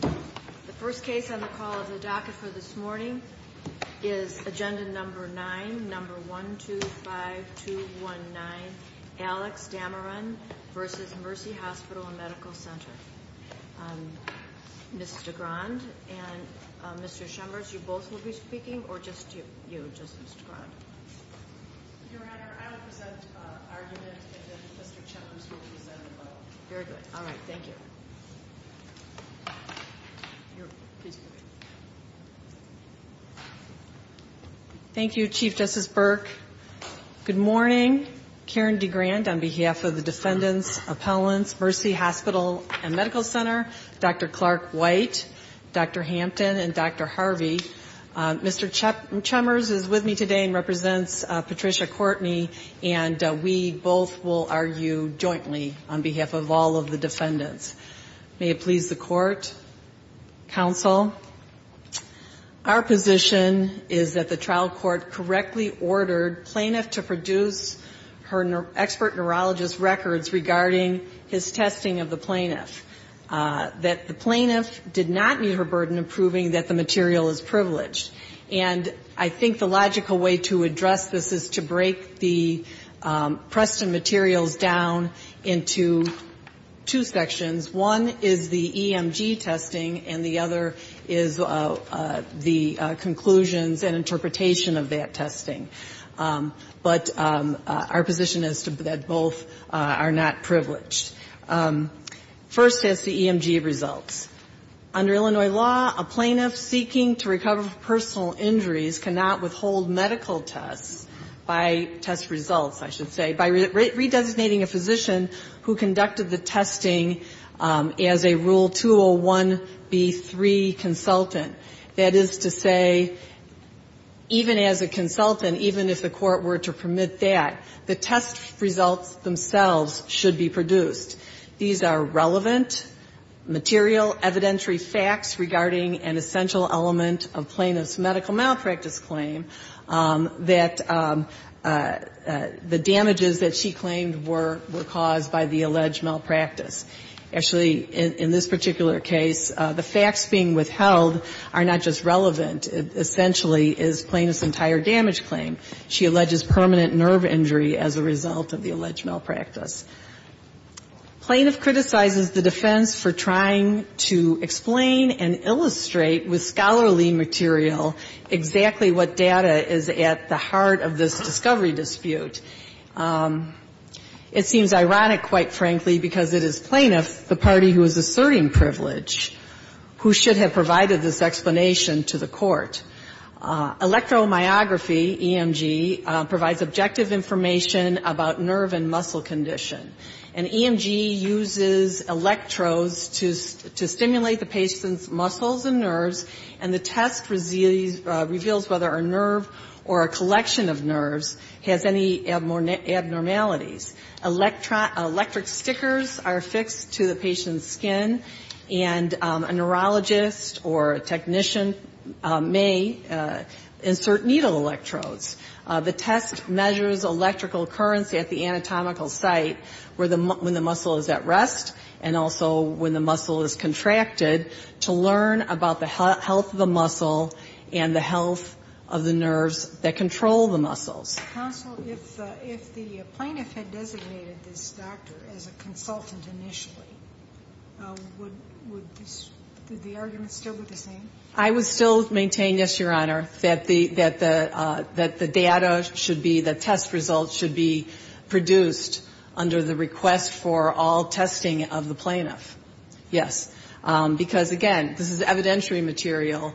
The first case on the call of the docket for this morning is Agenda No. 9, No. 125219, Alex Dameron v. Mercy Hospital and Medical Center. Mr. Grand and Mr. Chembers, you both will be speaking or just you, just Mr. Grand? Your Honor, I will present argument and then Mr. Chembers will present the vote. Very good. All right. Thank you. Thank you, Chief Justice Burke. Good morning. Karen DeGrand on behalf of the Defendants Appellants, Mercy Hospital and Medical Center, Dr. Clark White, Dr. Hampton, and Dr. Harvey. Mr. Chembers is with me today and represents Patricia Courtney, and we both will argue jointly on behalf of all of the defendants. May it please the Court. Counsel, our position is that the trial court correctly ordered plaintiff to produce her expert neurologist records regarding his testing of the plaintiff. That the plaintiff did not meet her burden of proving that the material is privileged. And I think the logical way to address this is to break the Preston materials down into two sections. One is the EMG testing and the other is the conclusions and interpretation of that testing. But our position is that both are not privileged. First is the EMG results. Under Illinois law, a plaintiff seeking to recover from personal injuries cannot withhold medical tests by test results, I should say, by re-designating a physician who conducted the testing as a Rule 201B3 consultant. That is to say, even as a consultant, even if the Court were to permit that, the test results themselves should be produced. These are relevant, material, evidentiary facts regarding an essential element of plaintiff's medical malpractice claim, that the damages that she claimed were caused by the alleged malpractice. Actually, in this particular case, the facts being withheld are not just relevant. It essentially is plaintiff's entire damage claim. She alleges permanent nerve injury as a result of the alleged malpractice. Plaintiff criticizes the defense for trying to explain and illustrate with scholarly material exactly what data is at the heart of this discovery dispute. It seems ironic, quite frankly, because it is plaintiff, the party who is asserting privilege, who should have provided this explanation to the Court. Electromyography, EMG, provides objective information about nerve and muscle condition. And EMG uses electrodes to stimulate the patient's muscles and nerves, and the test reveals whether a nerve or a collection of nerves has any abnormalities. Electric stickers are affixed to the patient's skin, and a neurologist or a technician may insert needle electrodes. The test measures electrical currents at the anatomical site when the muscle is at rest, and also when the muscle is contracted, to learn about the health of the muscle and the health of the nerves that control the muscles. Counsel, if the plaintiff had designated this doctor as a consultant initially, would the argument still be the same? I would still maintain, yes, Your Honor, that the data should be, the test results should be produced under the request for all testing of the plaintiff. Yes, because, again, this is evidentiary material,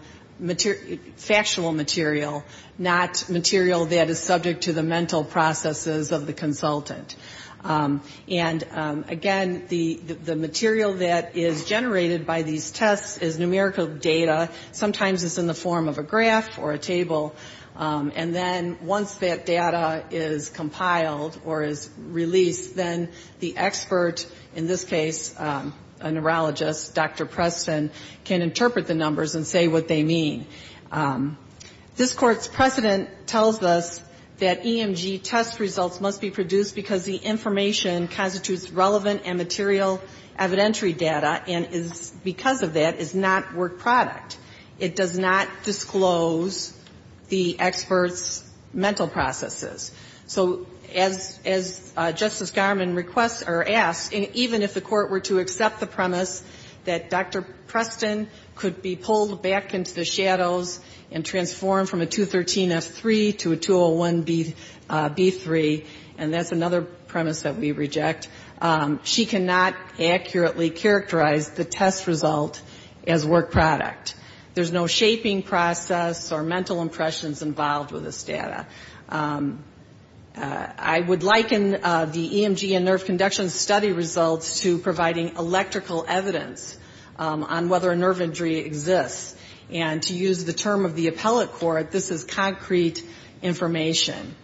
factual material, not material that is subject to the mental processes of the consultant. And, again, the material that is generated by these tests is numerical data. Sometimes it's in the form of a graph or a table, and then once that data is compiled or is released, then the expert, in this case a neurologist, Dr. Preston, can interpret the numbers and say what they mean. This Court's precedent tells us that EMG test results must be produced because the information constitutes relevant and material evidentiary data and is, because of that, is not work product. It does not disclose the expert's mental processes. So as Justice Garmon requests or asks, even if the Court were to accept the premise that Dr. Preston could be pulled back into the shadows and transformed from a 213F3 to a 201B3, and that's another premise that we reject, she cannot accurately characterize the test result as work product. There's no shaping process or mental impressions involved with this data. I would liken the EMG and nerve conduction study results to providing electrical evidence on whether a nerve injury exists. And to use the term of the appellate court, this is concrete information.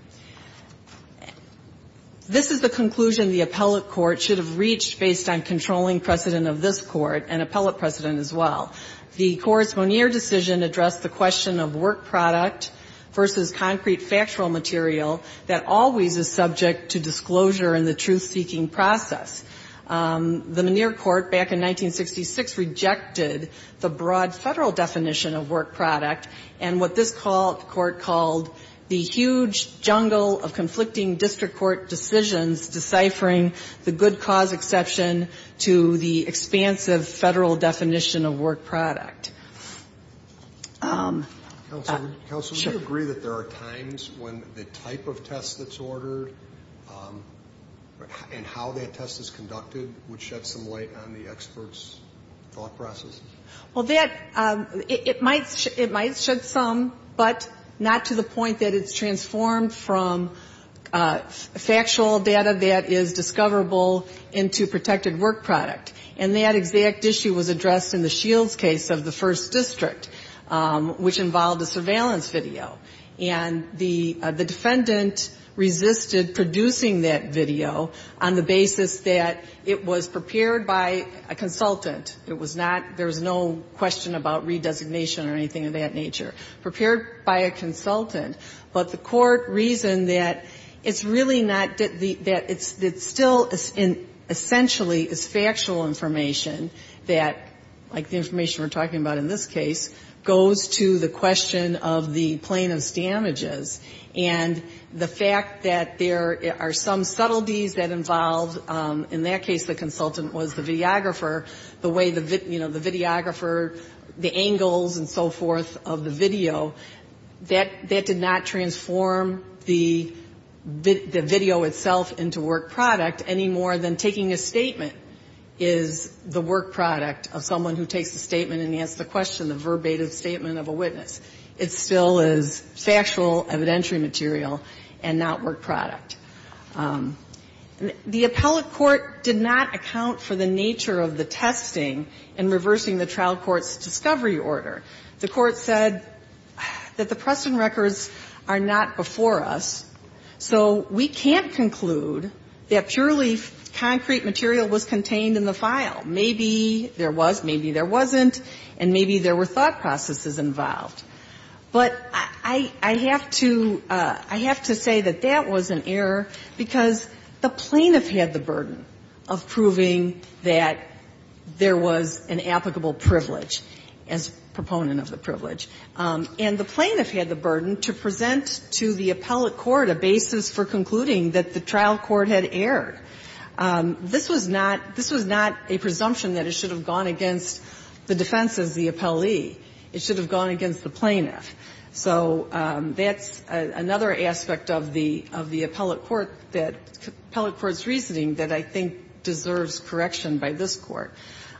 This is the conclusion the appellate court should have reached based on controlling precedent of this court and appellate precedent as well. The courts' Monier decision addressed the question of work product versus concrete factual material that always is subject to disclosure in the truth-seeking process. The Monier court back in 1966 rejected the broad Federal definition of work product and what this court called the huge jungle of conflicting district court decisions deciphering the good cause exception to the expansive Federal definition of work product. Counsel, do you agree that there are times when the type of test that's ordered and how that test is conducted would shed some light on the expert's thought process? Well, that, it might shed some, but not to the point that it's transformed from factual data that is discoverable into protected work product. And that exact issue was addressed in the Shields case. In the case of the first district, which involved a surveillance video. And the defendant resisted producing that video on the basis that it was prepared by a consultant. It was not, there was no question about redesignation or anything of that nature. Prepared by a consultant. But the court reasoned that it's really not, that it's still essentially is factual information that, like the information we're talking about in this case, goes to the question of the plaintiff's damages. And the fact that there are some subtleties that involve, in that case the consultant was the videographer, the way the videographer, the angles and so forth of the video, that did not mean more than taking a statement is the work product of someone who takes the statement and asks the question, the verbatim statement of a witness. It still is factual evidentiary material and not work product. The appellate court did not account for the nature of the testing in reversing the trial court's discovery order. The court said that the Preston records are not before us, so we can't conclude that purely concrete material was contained in the file. Maybe there was, maybe there wasn't, and maybe there were thought processes involved. But I have to, I have to say that that was an error, because the plaintiff had the burden of proving that there was an applicable privilege, as a proponent of the privilege. And the plaintiff had the burden to present to the appellate court a basis for concluding that the trial court had erred. This was not, this was not a presumption that it should have gone against the defense as the appellee. It should have gone against the plaintiff. So that's another aspect of the, of the appellate court that, appellate court's reasoning that I think deserves correction by this Court.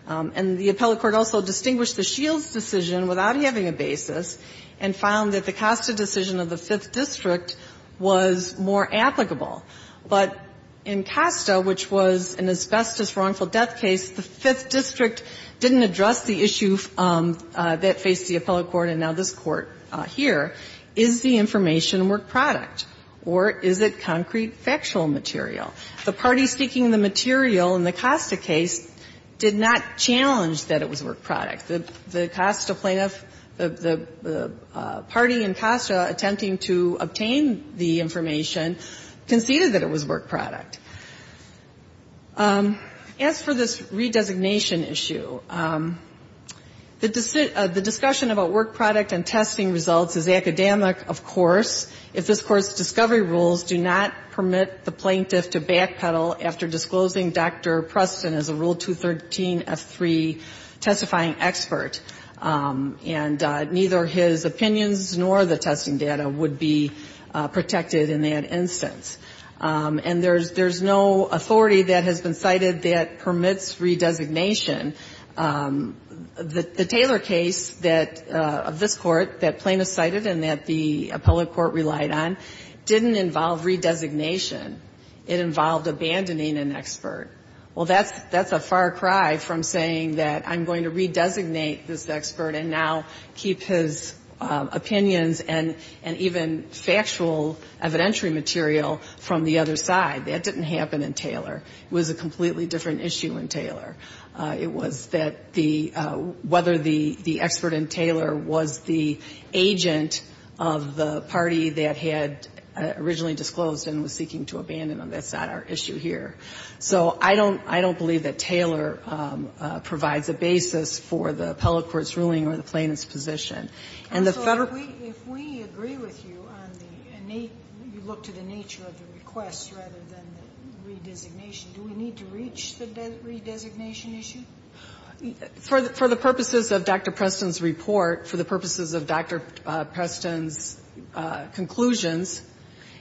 And the appellate court also distinguished the Shields' decision without having a basis and found that the Costa decision of the Fifth District was more applicable. But in Costa, which was an asbestos wrongful death case, the Fifth District didn't address the issue that faced the appellate court and now this Court here. Is the information work product, or is it concrete factual material? The parties speaking the material in the Costa case did not challenge that it was work product. The Costa plaintiff, the party in Costa attempting to obtain the information conceded that it was work product. As for this redesignation issue, the discussion about work product and testing results is academic, of course, if this Court's discovery rules do not permit the plaintiff to backpedal after disclosing Dr. Preston as a Rule 213F3 testifying expert. And neither his opinions nor the testing data would be protected in that instance. And there's, there's no authority that has been cited that permits redesignation. The Taylor case that, of this Court, that plaintiff cited and that the appellate court relied on didn't involve redesignation. It involved abandoning an expert. Well, that's, that's a far cry from saying that I'm going to redesignate this expert and now keep his opinions and, and even factual evidentiary material from the other side. That didn't happen in Taylor. It was a completely different issue in Taylor. It was that the, whether the, the expert in Taylor was the agent of the parties that had originally disclosed and was seeking to abandon him. That's not our issue here. So I don't, I don't believe that Taylor provides a basis for the appellate court's ruling or the plaintiff's position. And the Federal And so if we, if we agree with you on the innate, you look to the nature of the request rather than the redesignation, do we need to reach the redesignation issue? For, for the purposes of Dr. Preston's report, for the purposes of Dr. Preston's conclusions,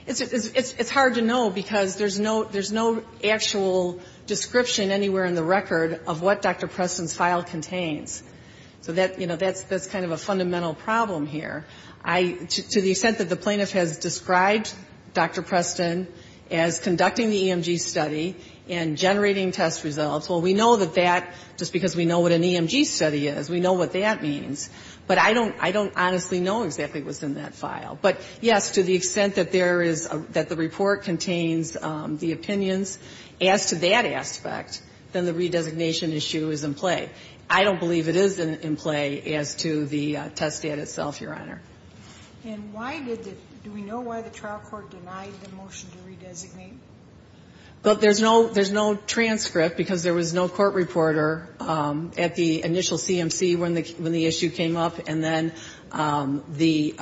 it's, it's hard to know because there's no, there's no actual description anywhere in the record of what Dr. Preston's file contains. So that, you know, that's, that's kind of a fundamental problem here. I, to the extent that the plaintiff has described Dr. Preston as conducting the EMG study and generating test results, well, we know that that, just because we know what an EMG study is, we know what that means. But I don't, I don't honestly know exactly what's in that file. But, yes, to the extent that there is, that the report contains the opinions as to that aspect, then the redesignation issue is in play. I don't believe it is in, in play as to the test data itself, Your Honor. And why did the, do we know why the trial court denied the motion to redesignate? Well, there's no, there's no transcript because there was no court reporter at the initial CMC when the, when the issue came up. And then the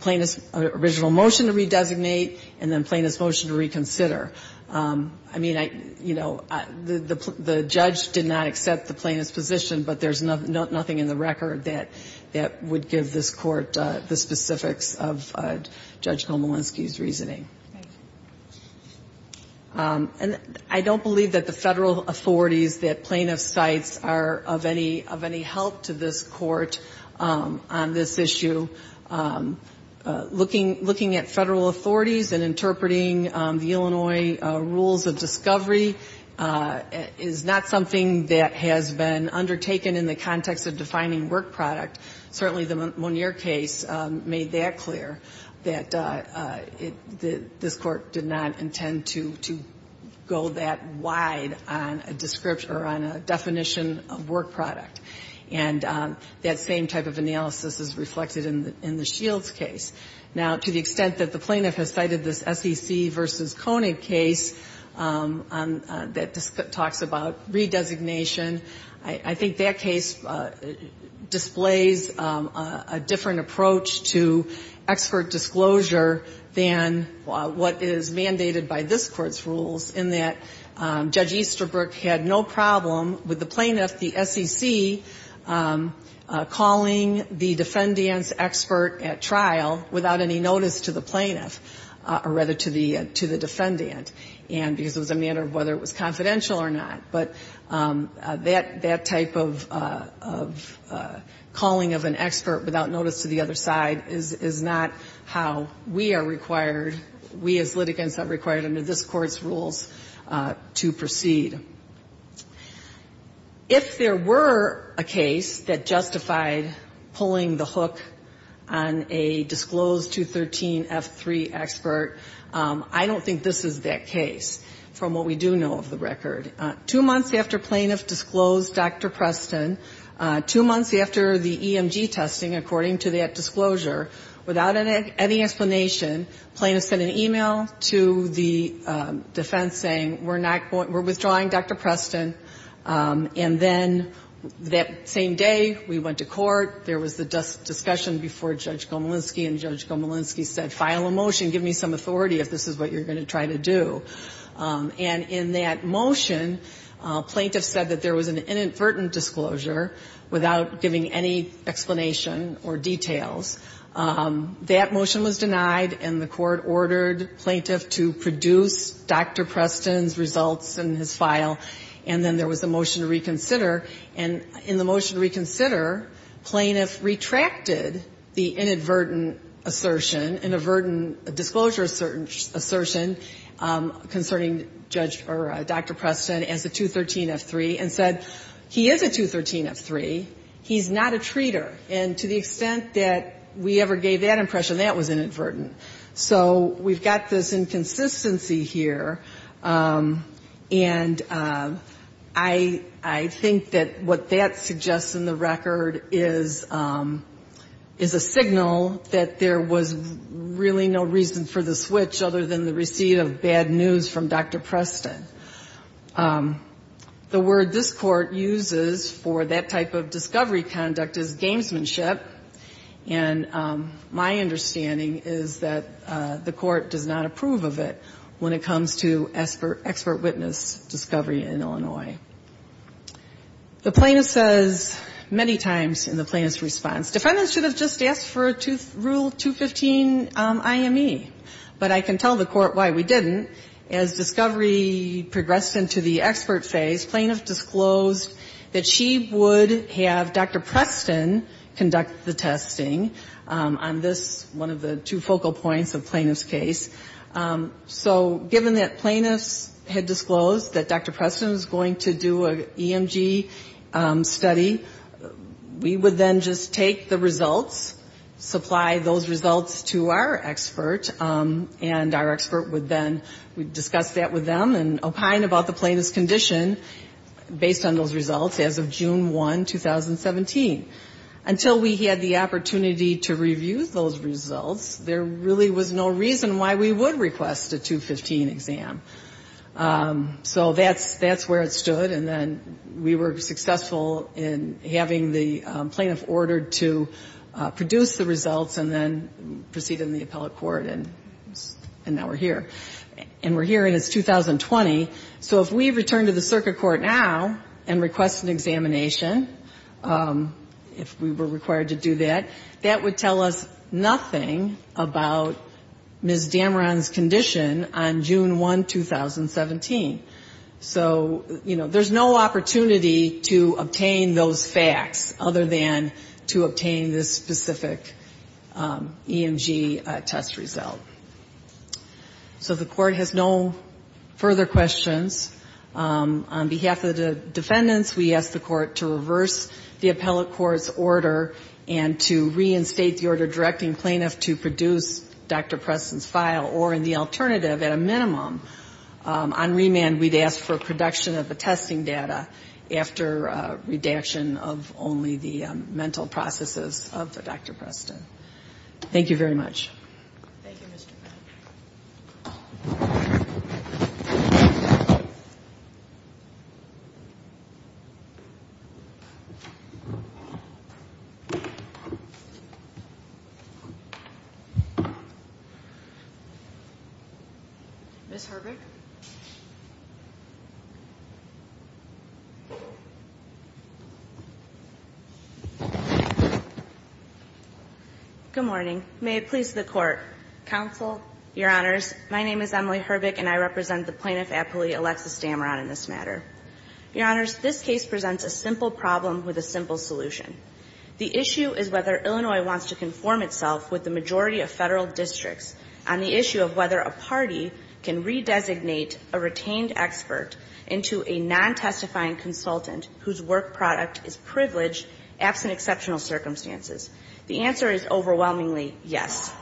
plaintiff's original motion to redesignate and then plaintiff's motion to reconsider. I mean, I, you know, the, the judge did not accept the plaintiff's position, but there's nothing in the record that, that would give this Court the specifics of Judge Komolinski's reasoning. And I don't believe that the federal authorities, that plaintiff's sites are of any, of any help to this Court on this issue. Looking, looking at federal authorities and interpreting the Illinois rules of discovery is not something that has been undertaken in the context of defining work product. Certainly the Monier case made that clear, that it, this Court did not intend to, to go that wide on a description or on a definition of work product. And that same type of analysis is reflected in the, in the Shields case. Now, to the extent that the plaintiff has cited this SEC v. Konig case that talks about redesignation, I, I think that case displays a different approach to expert disclosure than what is mandated by this Court's rules, in that Judge Easterbrook had no problem with the plaintiff, the SEC, calling the defendant's expert at trial without any notice to the plaintiff, or rather to the, to the defendant. And because it was a matter of whether it was confidential or not. But that, that type of, of calling of an expert without notice to the other side is, is not how we are required, we as litigants are required under this Court's rules to proceed. If there were a case that justified pulling the hook on a disclosed 213 F3 expert, I don't think this is that case, from what we do know of the record. Two months after plaintiff disclosed Dr. Preston, two months after the EMG testing, according to that disclosure, without any explanation, plaintiff sent an e-mail to the defense saying, we're not going, we're withdrawing Dr. Preston. And then that same day we went to court, there was the discussion before Judge Gomelinsky, and Judge Gomelinsky said, file a motion, give me some authority if this is what you're going to try to do. And in that motion, plaintiff said that there was an inadvertent disclosure without giving any explanation or details. That motion was denied, and the court ordered plaintiff to produce Dr. Preston's results in his file, and then there was a motion to reconsider. And in the motion to reconsider, plaintiff retracted the inadvertent assertion, inadvertent disclosure assertion concerning Judge or Dr. Preston as a 213 F3, and said, he is a 213 F3, he's not a treater. And to the extent that we ever gave that impression, that was inadvertent. So we've got this inconsistency here, and I think that what that suggests in the case is a signal that there was really no reason for the switch other than the receipt of bad news from Dr. Preston. The word this Court uses for that type of discovery conduct is gamesmanship, and my understanding is that the Court does not approve of it when it comes to expert witness discovery in Illinois. The plaintiff says many times in the plaintiff's response, defendants should have just asked for Rule 215 IME, but I can tell the Court why we didn't. As discovery progressed into the expert phase, plaintiff disclosed that she would have Dr. Preston conduct the testing on this, one of the two focal points of plaintiff's case. So given that plaintiffs had disclosed that Dr. Preston was going to do an EMG study, we would then just take the results, supply those results to our expert, and our expert would then discuss that with them and opine about the plaintiff's condition based on those results as of June 1, 2017. Until we had the opportunity to review those results, there really was no reason why we would request a 215 exam. So that's where it stood, and then we were successful in having the plaintiff order to produce the results and then proceed in the appellate court, and now we're here. And we're here and it's 2020, so if we return to the circuit court now and request an examination, if we were required to do that, that would tell us nothing about Ms. Dameron's condition on June 1, 2017. So, you know, there's no opportunity to obtain those facts other than to obtain this specific EMG test result. So the Court has no further questions. On behalf of the defendants, we ask the Court to reverse the appellate court's order and to reinstate the order directing plaintiff to produce Dr. Preston's file or, in the alternative, at a minimum, on remand we'd ask for production of the testing data after redaction of only the mental processes of Dr. Preston. Thank you very much. Thank you, Mr. Pat. Ms. Harbeck? Good morning. May it please the Court, Counsel, Your Honors, my name is Emily Harbeck and I represent the plaintiff appellee, Alexis Dameron, in this matter. Your Honors, this case presents a simple problem with a simple solution. The issue is whether Illinois wants to conform itself with the majority of Federal districts on the issue of whether a party can redesignate a retained expert into a non-testifying consultant whose work product is privileged absent exceptional circumstances. The answer is overwhelmingly yes.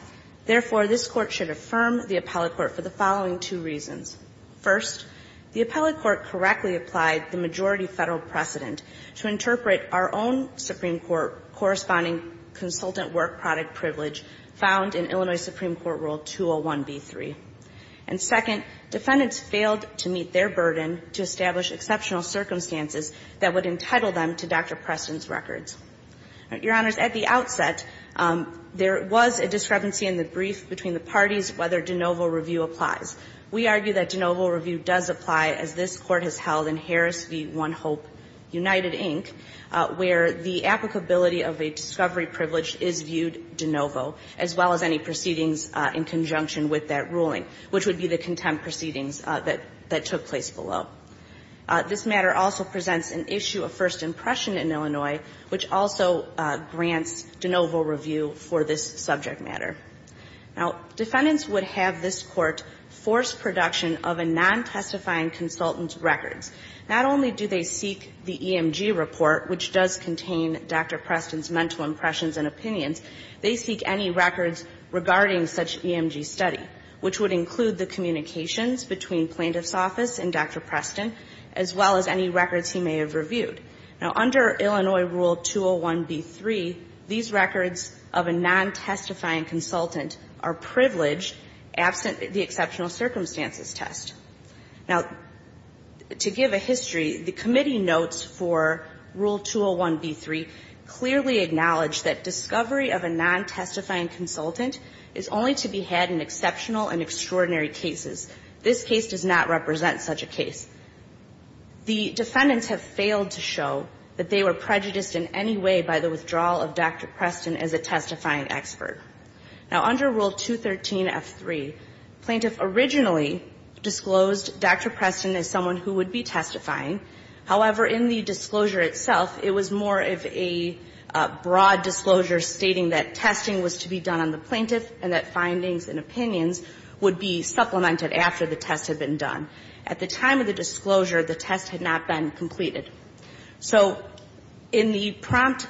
Therefore, this Court should affirm the appellate court for the following two reasons. First, the appellate court correctly applied the majority Federal precedent to interpret our own Supreme Court corresponding consultant work product privilege found in Illinois Supreme Court Rule 201b3. And second, defendants failed to meet their burden to establish exceptional circumstances that would entitle them to Dr. Preston's records. Your Honors, at the outset, there was a discrepancy in the brief between the parties whether de novo review applies. We argue that de novo review does apply, as this Court has held in favor of the discovery privilege is viewed de novo, as well as any proceedings in conjunction with that ruling, which would be the contempt proceedings that took place below. This matter also presents an issue of first impression in Illinois, which also grants de novo review for this subject matter. Now, defendants would have this Court force production of a non-testifying consultant's records. Not only do they seek the EMG report, which does contain Dr. Preston's mental impressions and opinions, they seek any records regarding such EMG study, which would include the communications between Plaintiff's Office and Dr. Preston, as well as any records he may have reviewed. Now, under Illinois Rule 201b3, these records of a non-testifying consultant are privileged absent the exceptional circumstances test. Now, to give a history, the committee notes for Rule 201b3 clearly acknowledge that discovery of a non-testifying consultant is only to be had in exceptional and extraordinary cases. This case does not represent such a case. The defendants have failed to show that they were prejudiced in any way by the withdrawal of Dr. Preston as a testifying expert. Now, under Rule 213f3, Plaintiff originally disclosed Dr. Preston as someone who would be testifying. However, in the disclosure itself, it was more of a broad disclosure stating that testing was to be done on the plaintiff and that findings and opinions would be supplemented after the test had been done. At the time of the disclosure, the test had not been completed. So in the prompt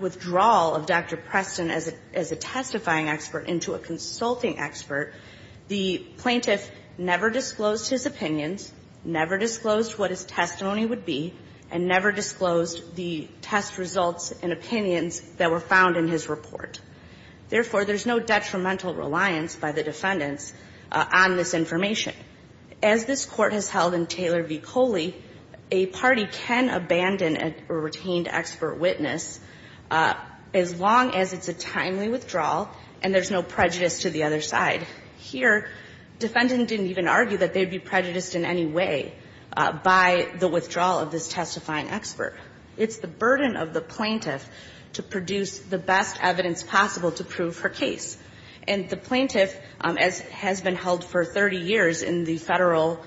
withdrawal of Dr. Preston as a testifying expert into a consulting expert, the plaintiff never disclosed his opinions, never disclosed what his testimony would be, and never disclosed the test results and opinions that were found in his report. Therefore, there's no detrimental reliance by the defendants on this information. As this Court has held in Taylor v. Coley, a party can abandon a retained expert witness as long as it's a timely withdrawal and there's no prejudice to the other side. Here, defendant didn't even argue that they'd be prejudiced in any way by the withdrawal of this testifying expert. It's the burden of the plaintiff to produce the best evidence possible to prove her case. And the plaintiff, as has been held for 30 years in the Federal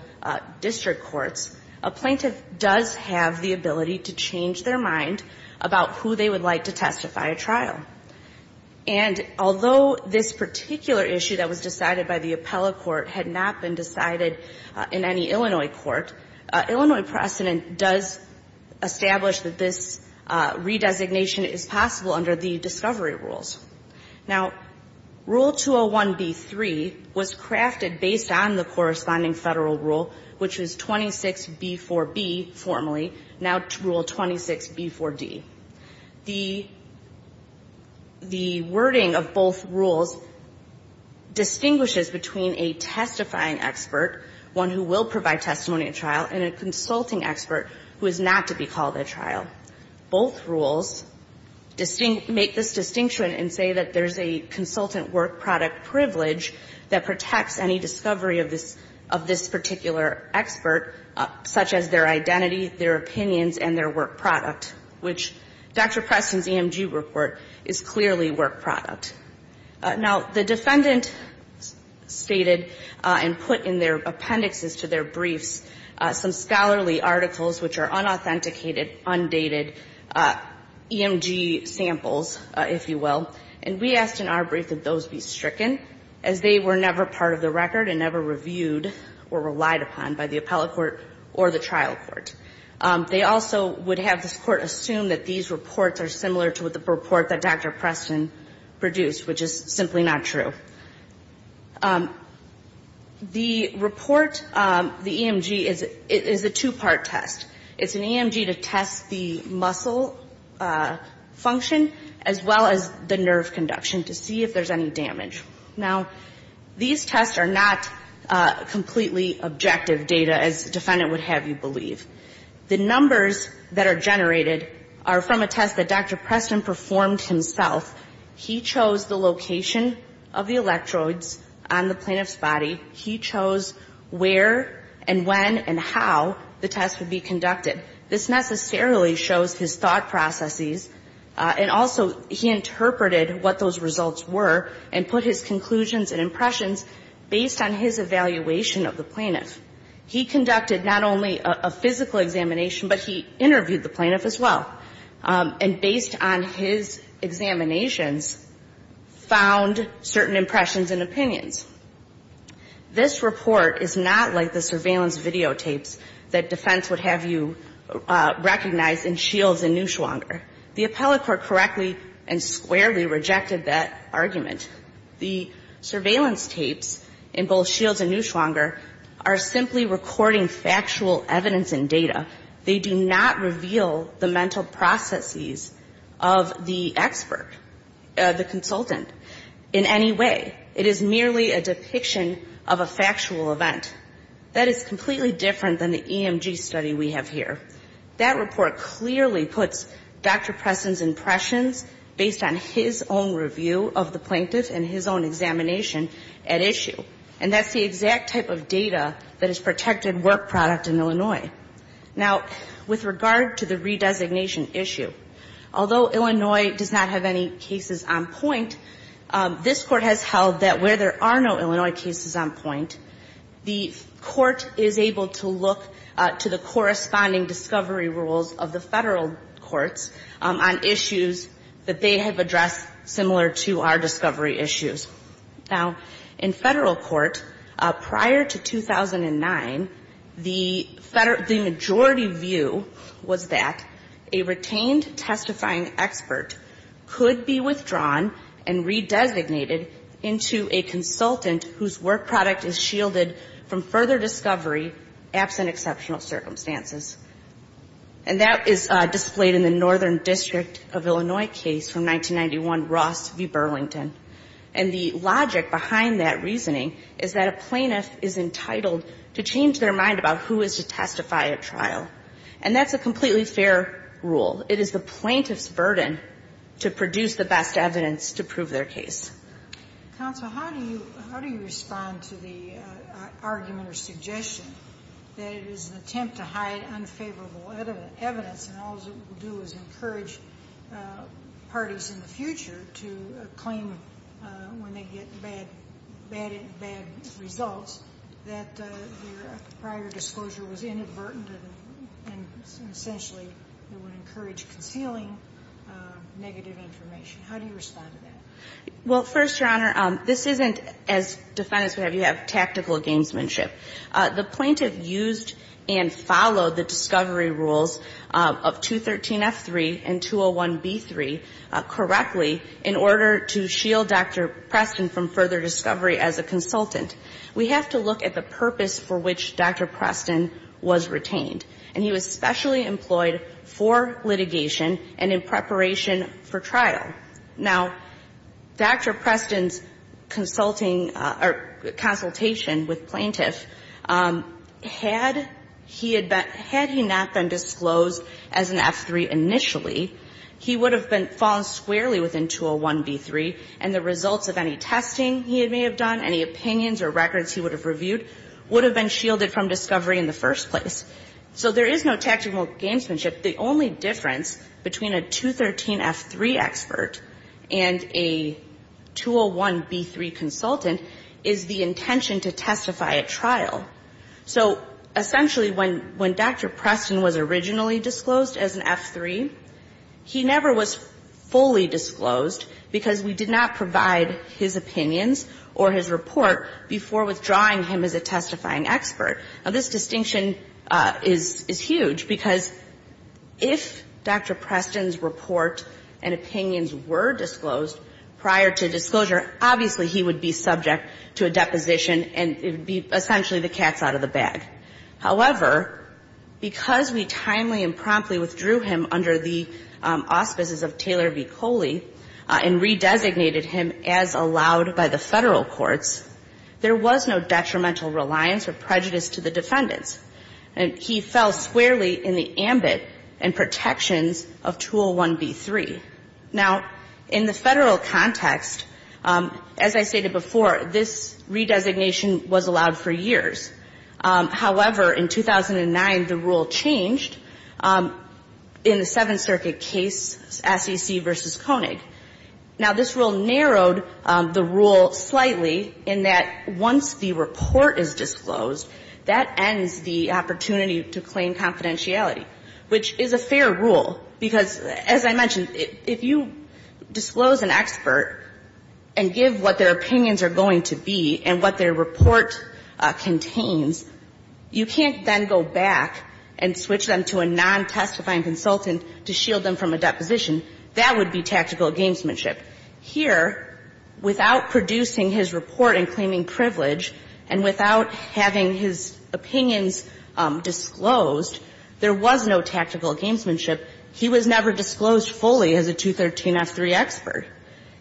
district courts, a plaintiff does have the ability to change their mind about who they would like to testify at trial. And although this particular issue that was not been decided in any Illinois court, Illinois precedent does establish that this redesignation is possible under the discovery rules. Now, Rule 201b-3 was crafted based on the corresponding Federal rule, which was 26b-4b formally, now Rule 26b-4d. The wording of both rules distinguishes between a testifying expert and a plaintiff testifying expert, one who will provide testimony at trial, and a consulting expert who is not to be called at trial. Both rules distinct, make this distinction and say that there's a consultant work product privilege that protects any discovery of this, of this particular expert, such as their identity, their opinions, and their work product, which Dr. Preston's EMG report is clearly work product. Now, the defendant stated and put in their appendixes to their briefs some scholarly articles which are unauthenticated, undated EMG samples, if you will, and we asked in our brief that those be stricken, as they were never part of the record and never reviewed or relied upon by the appellate court or the trial court. They also would have this court assume that these reports are similar to the report that Dr. Preston produced, which is simply not true. The report, the EMG, is a two-part test. It's an EMG to test the muscle function, as well as the nerve conduction, to see if there's any damage. Now, these tests are not completely objective data, as the defendant would have you believe. The numbers that are generated are from a test that Dr. Preston performed himself. He chose the location of the electrodes on the plaintiff's body. He chose where and when and how the test would be conducted. This necessarily shows his thought processes, and also he interpreted what those results were and put his conclusions and impressions based on his evaluation of the plaintiff. He conducted not only a physical examination, but he interviewed the plaintiff as well. And based on his examinations, found that there was no damage to the plaintiff's body. Now, this is not the kind of report that the defense would have you recognize in both Shields and Neuschwanger. The appellate court correctly and squarely rejected that argument. The surveillance tapes in both Shields and Neuschwanger are simply recording factual evidence and data. They do not reveal the mental processes of the expert, the consultant, in any way. It is merely a depiction of a factual event. That is completely different than the EMG study we have here. That report clearly puts Dr. Preston's impressions based on his own review of the plaintiff and his own examination at issue. And that's the exact type of data that is protected work product in Illinois. Now, the court has held that where there are no Illinois cases on point, the court is able to look to the corresponding discovery rules of the Federal courts on issues that they have addressed, similar to our discovery issues. Now, in Federal court, prior to 2009, the majority view was that a retained plaintiff should be able to testify, and that a retained testifying expert could be withdrawn and redesignated into a consultant whose work product is shielded from further discovery, absent exceptional circumstances. And that is displayed in the Northern District of Illinois case from 1991, Ross v. Burlington. And the logic behind that reasoning is that a plaintiff is entitled to change their mind about who is to testify at trial. And that's a completely fair rule. It is the plaintiff's burden to produce the best evidence to prove their case. Sotomayor, how do you respond to the argument or suggestion that it is an attempt to hide unfavorable evidence, and all it will do is encourage parties in the future to claim when they get bad results, that their prior disclosure was inadvertent and essentially it would encourage concealing negative information? How do you respond to that? Well, first, Your Honor, this isn't, as defendants would have, you have tactical gamesmanship. The plaintiff used and followed the discovery rules of 213F3 and 201B3 correctly in order to shield Dr. Preston from further discovery as a consultant. We have to look at the purpose for which Dr. Preston was retained. And he was specially employed for litigation and in preparation for trial. Now, Dr. Preston's consulting or consultation with plaintiff, had he not been disclosed as an F3 initially, he would have been found squarely within 201B3, and the results of any testing he may have done, any opinions or records he would have reviewed, would have been shielded from discovery in the first place. So there is no tactical gamesmanship. The only difference between a 213F3 expert and a 201B3 consultant is the intention to testify at trial. So essentially, when Dr. Preston was originally disclosed as an F3, he never was fully disclosed, because we did not provide his opinions, or his report, before withdrawing him as a testifying expert. Now, this distinction is huge, because if Dr. Preston's report and opinions were disclosed prior to disclosure, obviously he would be subject to a deposition, and it would be essentially the cats out of the bag. However, because we timely and promptly withdrew him under the auspices of Taylor v. Coley, and redesignated him as allowed by the Federal courts, there was no detrimental reliance or prejudice to the defendants. And he fell squarely in the ambit and protections of 201B3. Now, in the Federal context, as I stated before, this redesignation was allowed for years. However, in 2009, the rule changed. In the Seventh Circuit case, SEC v. Koenig, now, this rule narrowed the rule slightly in that once the report is disclosed, that ends the opportunity to claim confidentiality, which is a fair rule, because, as I mentioned, if you disclose an expert and give what their opinions are going to be and what their report contains, you can't then go back and switch them to a non-testifying consultant to shield them from a deposition. That would be tactical gamesmanship. Here, without producing his report and claiming privilege, and without having his opinions disclosed, there was no tactical gamesmanship. He was never disclosed fully as a 213F3 expert.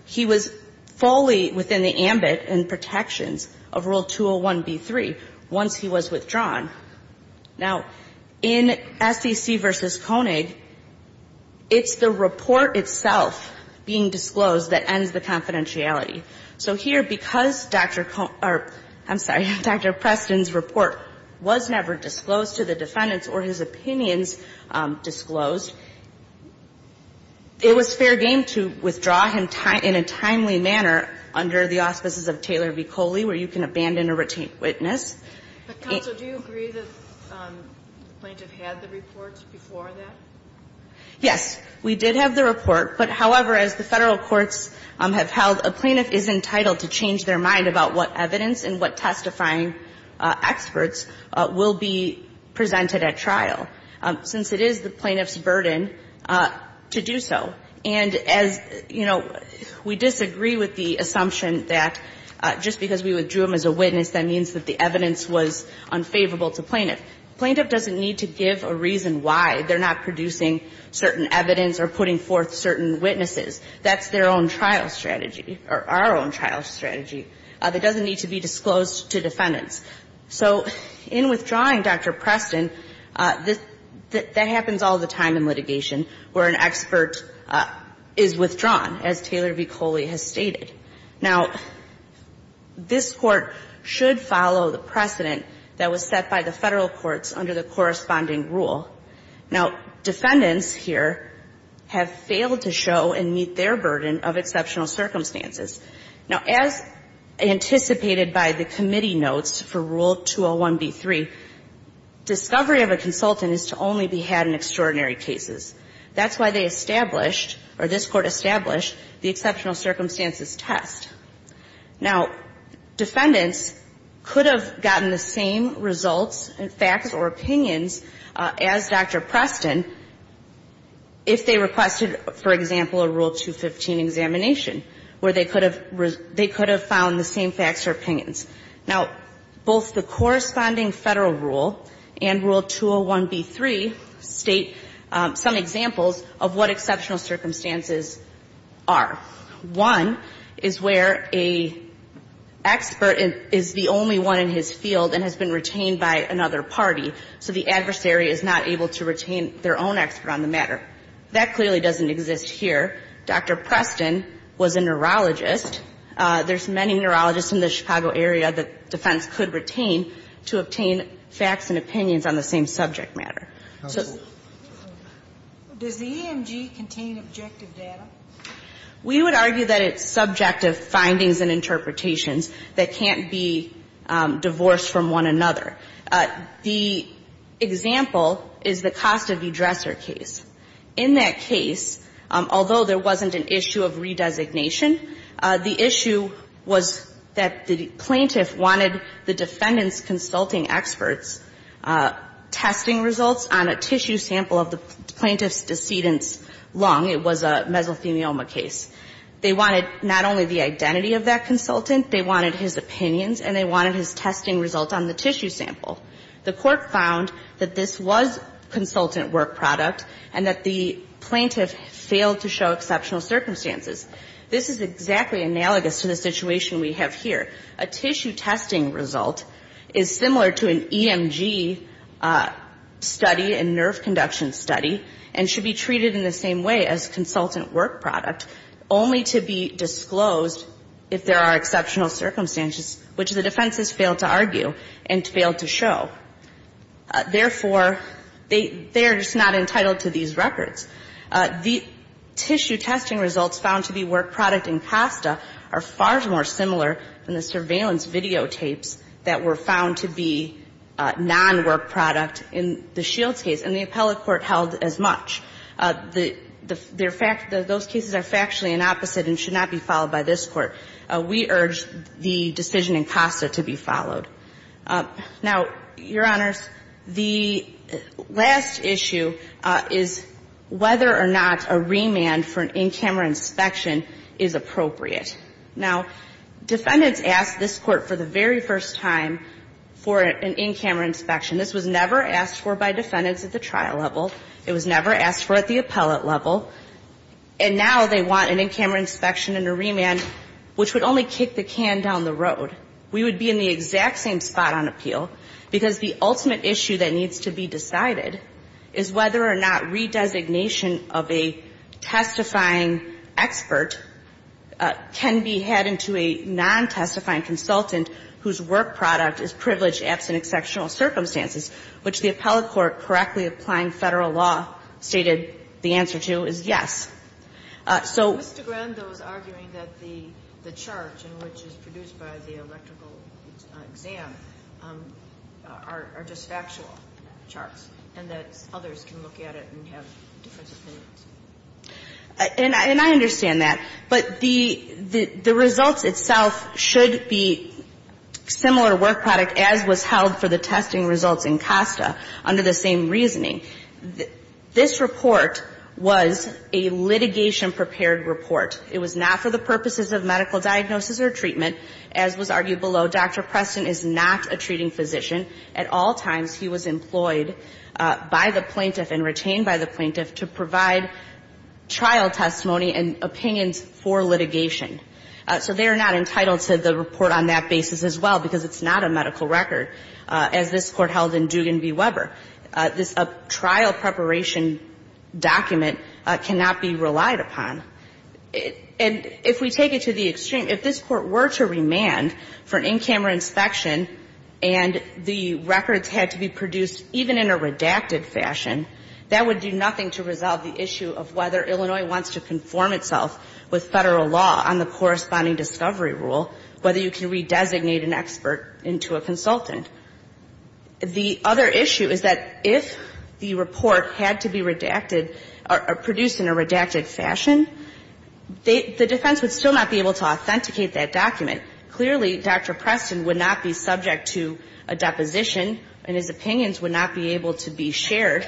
He was fully within the ambit and protections of Rule 201B3 once he was withdrawn. Now, in SEC v. Koenig, it's the report itself being disclosed that ends the confidentiality. So here, because Dr. Koenig or, I'm sorry, Dr. Preston's report was never disclosed to the defendants or his opinions disclosed, it was fair game to withdraw him in a timely manner under the auspices of Taylor v. Coley, where you can abandon a retained witness. But, counsel, do you agree that the plaintiff had the report before that? Yes. We did have the report. But, however, as the Federal courts have held, a plaintiff is entitled to change their mind about what evidence and what testifying experts will be presented at trial, since it is the plaintiff's burden to do so. And as, you know, as we withdrew him as a witness, that means that the evidence was unfavorable to plaintiff. Plaintiff doesn't need to give a reason why they're not producing certain evidence or putting forth certain witnesses. That's their own trial strategy or our own trial strategy. It doesn't need to be disclosed to defendants. So in withdrawing Dr. Preston, that happens all the time in litigation where an expert is withdrawn, as Taylor v. Coley has stated. Now, this Court should follow the precedent that was set by the Federal courts under the corresponding rule. Now, defendants here have failed to show and meet their burden of exceptional circumstances. Now, as anticipated by the committee notes for Rule 201b3, discovery of a consultant is to only be had in extraordinary cases. That's why they established or this Court established the exceptional circumstances test. Now, defendants could have gotten the same results, facts or opinions as Dr. Preston if they requested, for example, a Rule 215 examination, where they could have found the same facts or opinions. Now, both the corresponding Federal rule and Rule 201b3 state some examples of what exceptional circumstances are. One is where an expert is the only one in his field and has been retained by another party, so the adversary is not able to retain their own expert on the matter. That clearly doesn't exist here. Dr. Preston was a neurologist. There's many neurologists in the Chicago area that defense could retain to obtain facts and opinions on the same subject matter. So does the EMG contain objective data? We would argue that it's subjective findings and interpretations that can't be divorced from one another. The example is the Costa v. Dresser case. In that case, although there wasn't an issue of re-designation, the issue was that the plaintiff wanted the defendant's consulting expert's testing results on a tissue sample of the plaintiff's decedent's lung. It was a mesothelioma case. They wanted not only the identity of that consultant, they wanted his opinions, and they wanted his testing results on the tissue sample. The Court found that this was consultant work product and that the plaintiff failed to show exceptional circumstances. This is exactly analogous to the situation we have here. A tissue testing result is similar to an EMG study and nerve conduction study and should be treated in the same way as consultant work product, only to be disclosed if there are exceptional circumstances, which the defense has failed to argue and failed to show. Therefore, they are just not entitled to these records. The tissue testing results found to be work product in Costa are far more similar than the surveillance videotapes that were found to be non-work product in the Shields case, and the appellate court held as much. The fact that those cases are factually inopposite and should not be followed by this Court, we urge the decision in Costa to be followed. Now, Your Honors, the last issue is whether or not a remand for an in-camera inspection is appropriate. Now, defendants asked this Court for the very first time for an in-camera inspection. This was never asked for by defendants at the trial level. It was never asked for at the appellate level. And now they want an in-camera inspection and a remand, which would only kick the can down the road. We would be in the exact same spot on appeal because the ultimate issue that needs to be decided is whether or not redesignation of a testifying expert can be had into a non-testifying consultant whose work product is privileged absent exceptional circumstances, which the appellate court, correctly applying Federal law, stated the answer to is yes. So Mr. Grenda was arguing that the chart, which is produced by the electrical exam, are just factual charts and that others can look at it and have different opinions. And I understand that. But the results itself should be similar to work product as was held for the testing results in Costa under the same reasoning. This report was a litigation-prepared report. It was not for the purposes of medical diagnosis or treatment, as was argued below. Dr. Preston is not a treating physician. At all times he was employed by the plaintiff and retained by the plaintiff to provide trial testimony and opinions for litigation. So they are not entitled to the report on that basis as well, because it's not a medical record, as this Court held in Dugan v. Weber. This trial-preparation document cannot be relied upon. And if we take it to the extreme, if this Court were to remand for in-camera inspection and the records had to be produced even in a redacted fashion, that would do nothing to resolve the issue of whether Illinois wants to conform itself with or redesignate an expert into a consultant. The other issue is that if the report had to be redacted or produced in a redacted fashion, the defense would still not be able to authenticate that document. Clearly, Dr. Preston would not be subject to a deposition and his opinions would not be able to be shared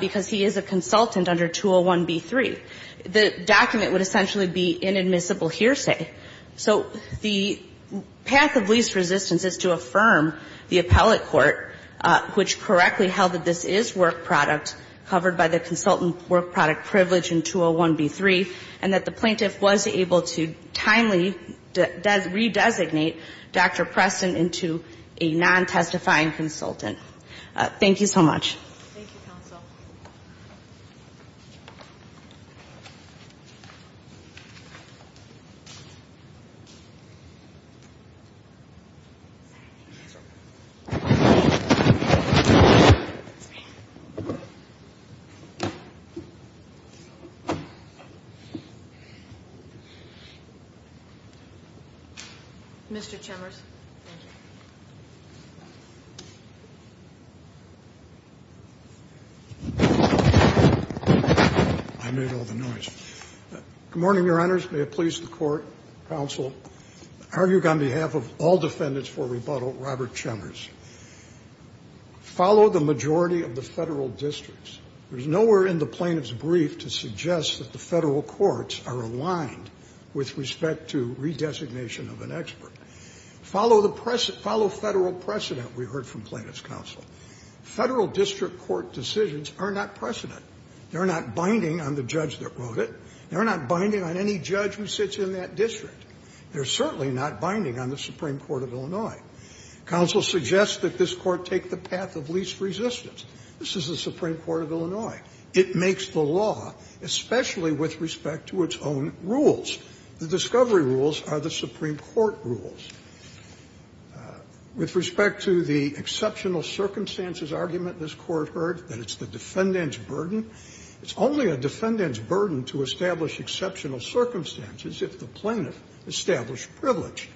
because he is a consultant under 201B3. The document would essentially be inadmissible hearsay. So the path of least resistance is to affirm the appellate court, which correctly held that this is work product covered by the consultant work product privilege in 201B3, and that the plaintiff was able to timely redesignate Dr. Preston into a non-testifying consultant. Thank you so much. Thank you, Counsel. Mr. Chemers. I made all the noise. Good morning, Your Honors. May it please the Court, Counsel. I argue on behalf of all defendants for rebuttal, Robert Chemers. Follow the majority of the Federal districts. There is nowhere in the plaintiff's brief to suggest that the Federal courts are aligned with respect to redesignation of an expert. Follow the precedent. Follow Federal precedent, we heard from plaintiff's counsel. Federal district court decisions are not precedent. They are not binding on the judge that wrote it. They are not binding on any judge who sits in that district. They are certainly not binding on the Supreme Court of Illinois. Counsel suggests that this Court take the path of least resistance. This is the Supreme Court of Illinois. It makes the law, especially with respect to its own rules. The discovery rules are the Supreme Court rules. With respect to the exceptional circumstances argument this Court heard, that it's the defendant's burden, it's only a defendant's burden to establish exceptional circumstances if the plaintiff established privilege.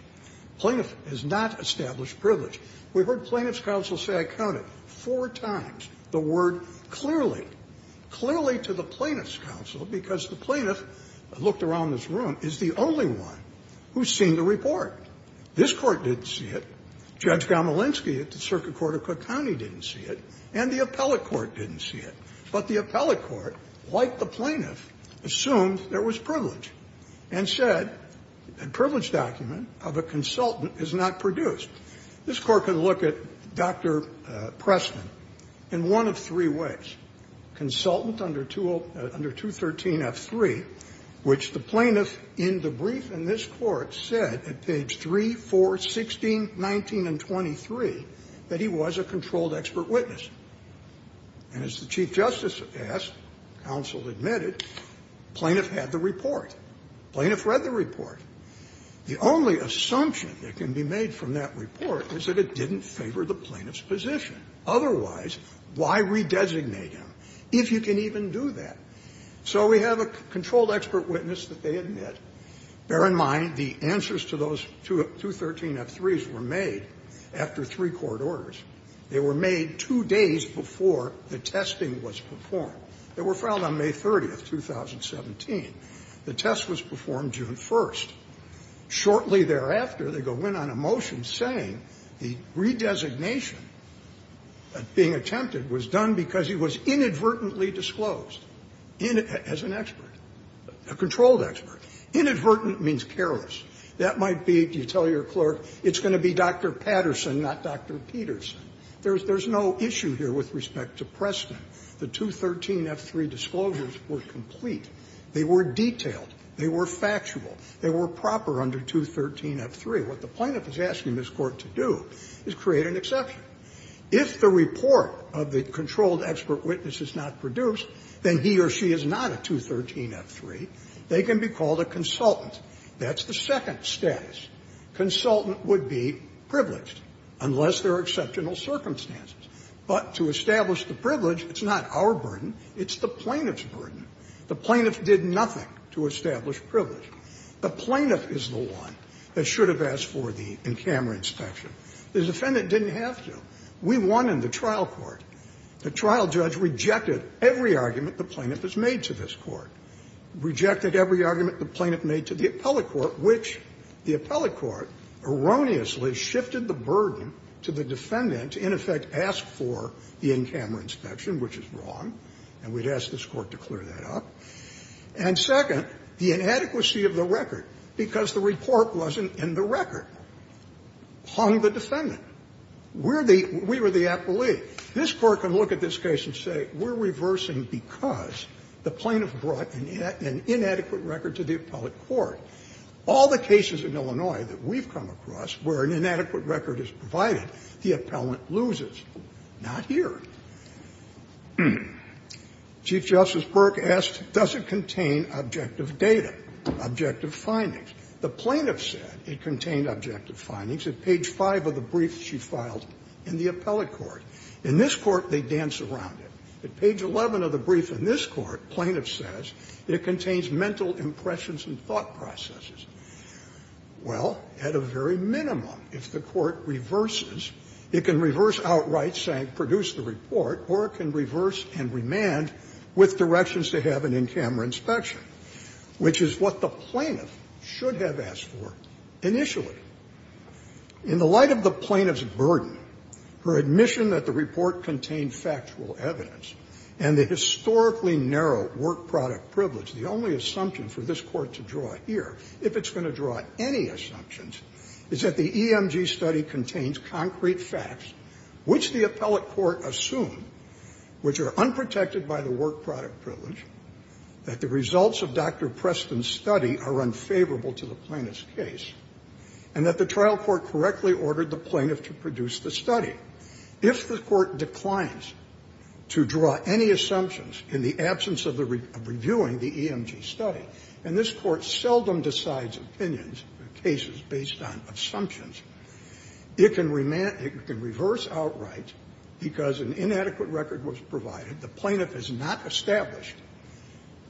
Plaintiff has not established privilege. We heard plaintiff's counsel say, I count it, four times, the word clearly, clearly to the plaintiff's counsel, because the plaintiff, I looked around this room, is the only one who has seen the report. This Court didn't see it. Judge Gomolinsky at the Circuit Court of Cook County didn't see it. And the appellate court didn't see it. But the appellate court, like the plaintiff, assumed there was privilege, and said a privilege document of a consultant is not produced. This Court can look at Dr. Preston in one of three ways. Consultant under 213F3, which the plaintiff in the brief in this Court said at page 3, 4, 16, 19, and 23, that he was a controlled expert witness. And as the Chief Justice asked, counsel admitted, plaintiff had the report. Plaintiff read the report. The only assumption that can be made from that report is that it didn't favor the plaintiff's position. Otherwise, why redesignate him, if you can even do that? So we have a controlled expert witness that they admit. Bear in mind the answers to those 213F3s were made after three court orders. They were made two days before the testing was performed. They were filed on May 30th, 2017. The test was performed June 1st. Shortly thereafter, they go in on a motion saying the redesignation being attempted was done because he was inadvertently disclosed as an expert, a controlled expert. Inadvertent means careless. That might be, you tell your clerk, it's going to be Dr. Patterson, not Dr. Peterson. There's no issue here with respect to Preston. The 213F3 disclosures were complete. They were detailed. They were factual. They were proper under 213F3. What the plaintiff is asking this Court to do is create an exception. If the report of the controlled expert witness is not produced, then he or she is not a 213F3. They can be called a consultant. That's the second status. Consultant would be privileged, unless there are exceptional circumstances. It's the plaintiff's burden. The plaintiff did nothing to establish privilege. The plaintiff is the one that should have asked for the in-camera inspection. The defendant didn't have to. We won in the trial court. The trial judge rejected every argument the plaintiff has made to this Court, rejected every argument the plaintiff made to the appellate court, which the appellate court erroneously shifted the burden to the defendant to, in effect, ask for the in-camera inspection, which is wrong. And we'd ask this Court to clear that up. And second, the inadequacy of the record, because the report wasn't in the record, hung the defendant. We're the – we were the appleee. This Court can look at this case and say, we're reversing because the plaintiff brought an inadequate record to the appellate court. All the cases in Illinois that we've come across where an inadequate record is provided, the appellant loses. Not here. Chief Justice Burke asked, does it contain objective data, objective findings? The plaintiff said it contained objective findings at page 5 of the brief she filed in the appellate court. In this court, they dance around it. At page 11 of the brief in this court, plaintiff says it contains mental impressions and thought processes. Well, at a very minimum, if the court reverses, it can reverse outright, saying or it can reverse and remand with directions to have an in-camera inspection, which is what the plaintiff should have asked for initially. In the light of the plaintiff's burden, her admission that the report contained factual evidence and the historically narrow work product privilege, the only assumption for this Court to draw here, if it's going to draw any assumptions, is that the EMG study contains concrete facts which the appellate court assumed, which are unprotected by the work product privilege, that the results of Dr. Preston's study are unfavorable to the plaintiff's case, and that the trial court correctly ordered the plaintiff to produce the study. If the court declines to draw any assumptions in the absence of reviewing the EMG study and this court seldom decides opinions in cases based on assumptions, it can reverse outright because an inadequate record was provided, the plaintiff has not established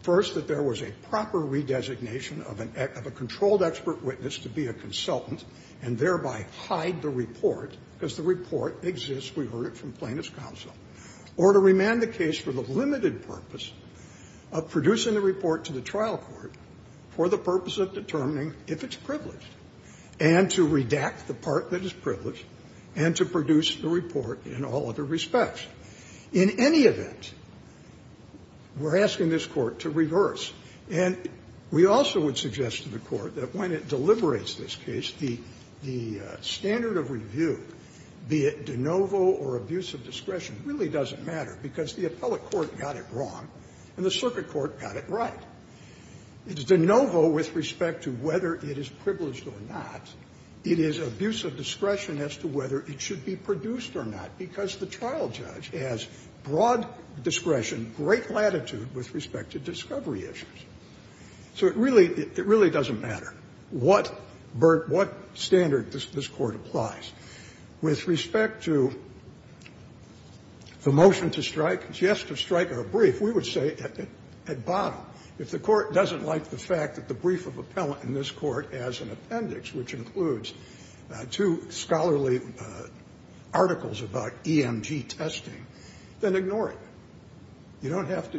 first that there was a proper redesignation of a controlled expert witness to be a consultant and thereby hide the report, because the report exists. We heard it from plaintiff's counsel. In any event, we're asking this Court to reverse, and we also would suggest to the Court that when it deliberates this case, the standard of review, be it de novo or abuse of discretion, really doesn't matter, because the appellate court got it wrong and the circuit court got it right. It is de novo with respect to whether it is privileged or not. It is abuse of discretion as to whether it should be produced or not, because the trial judge has broad discretion, great latitude with respect to discovery issues. So it really doesn't matter what standard this Court applies. With respect to the motion to strike, just to strike our brief, we would say at bottom if the Court doesn't like the fact that the brief of appellate in this Court has an appendix, which includes two scholarly articles about EMG testing, then ignore it. You don't have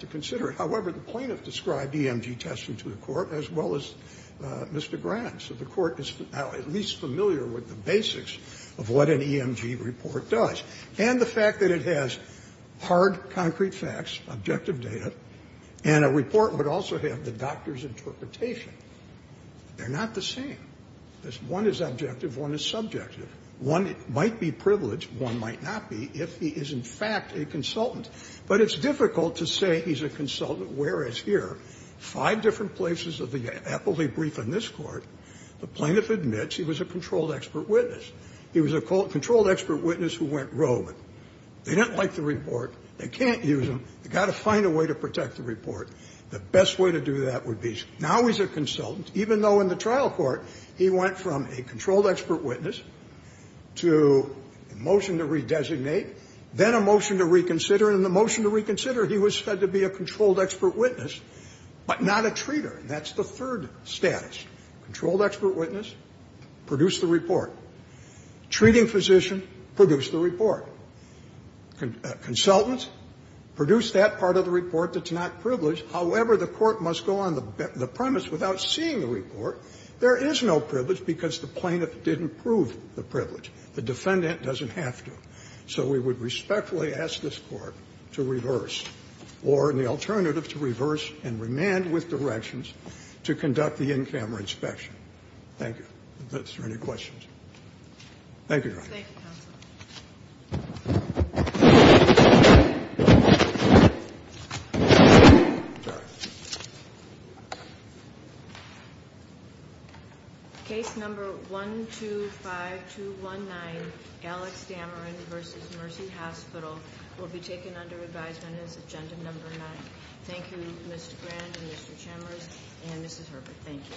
to consider it. However, the plaintiff described EMG testing to the Court as well as Mr. Grant. So the Court is now at least familiar with the basics of what an EMG report does. And the fact that it has hard, concrete facts, objective data, and a report, but also have the doctor's interpretation, they're not the same. One is objective, one is subjective. One might be privileged, one might not be, if he is in fact a consultant. But it's difficult to say he's a consultant, whereas here, five different places of the appellate brief in this Court, the plaintiff admits he was a controlled expert witness. He was a controlled expert witness who went rogue. They didn't like the report. They can't use them. They've got to find a way to protect the report. The best way to do that would be now he's a consultant, even though in the trial court he went from a controlled expert witness to a motion to redesignate, then a motion to reconsider. And in the motion to reconsider, he was said to be a controlled expert witness, but not a treater. And that's the third status. Controlled expert witness, produce the report. Treating physician, produce the report. Consultant, produce that part of the report that's not privileged. However, the Court must go on the premise without seeing the report, there is no privilege because the plaintiff didn't prove the privilege. The defendant doesn't have to. So we would respectfully ask this Court to reverse, or in the alternative to reverse and remand with directions, to conduct the in-camera inspection. Thank you. Is there any questions? Thank you, Your Honor. Thank you, Counsel. Case number 125219, Alex Dameron v. Mercy Hospital, will be taken under advisement as agenda number nine. Thank you, Mr. Grant and Mr. Chambers and Mrs. Herbert. Thank you.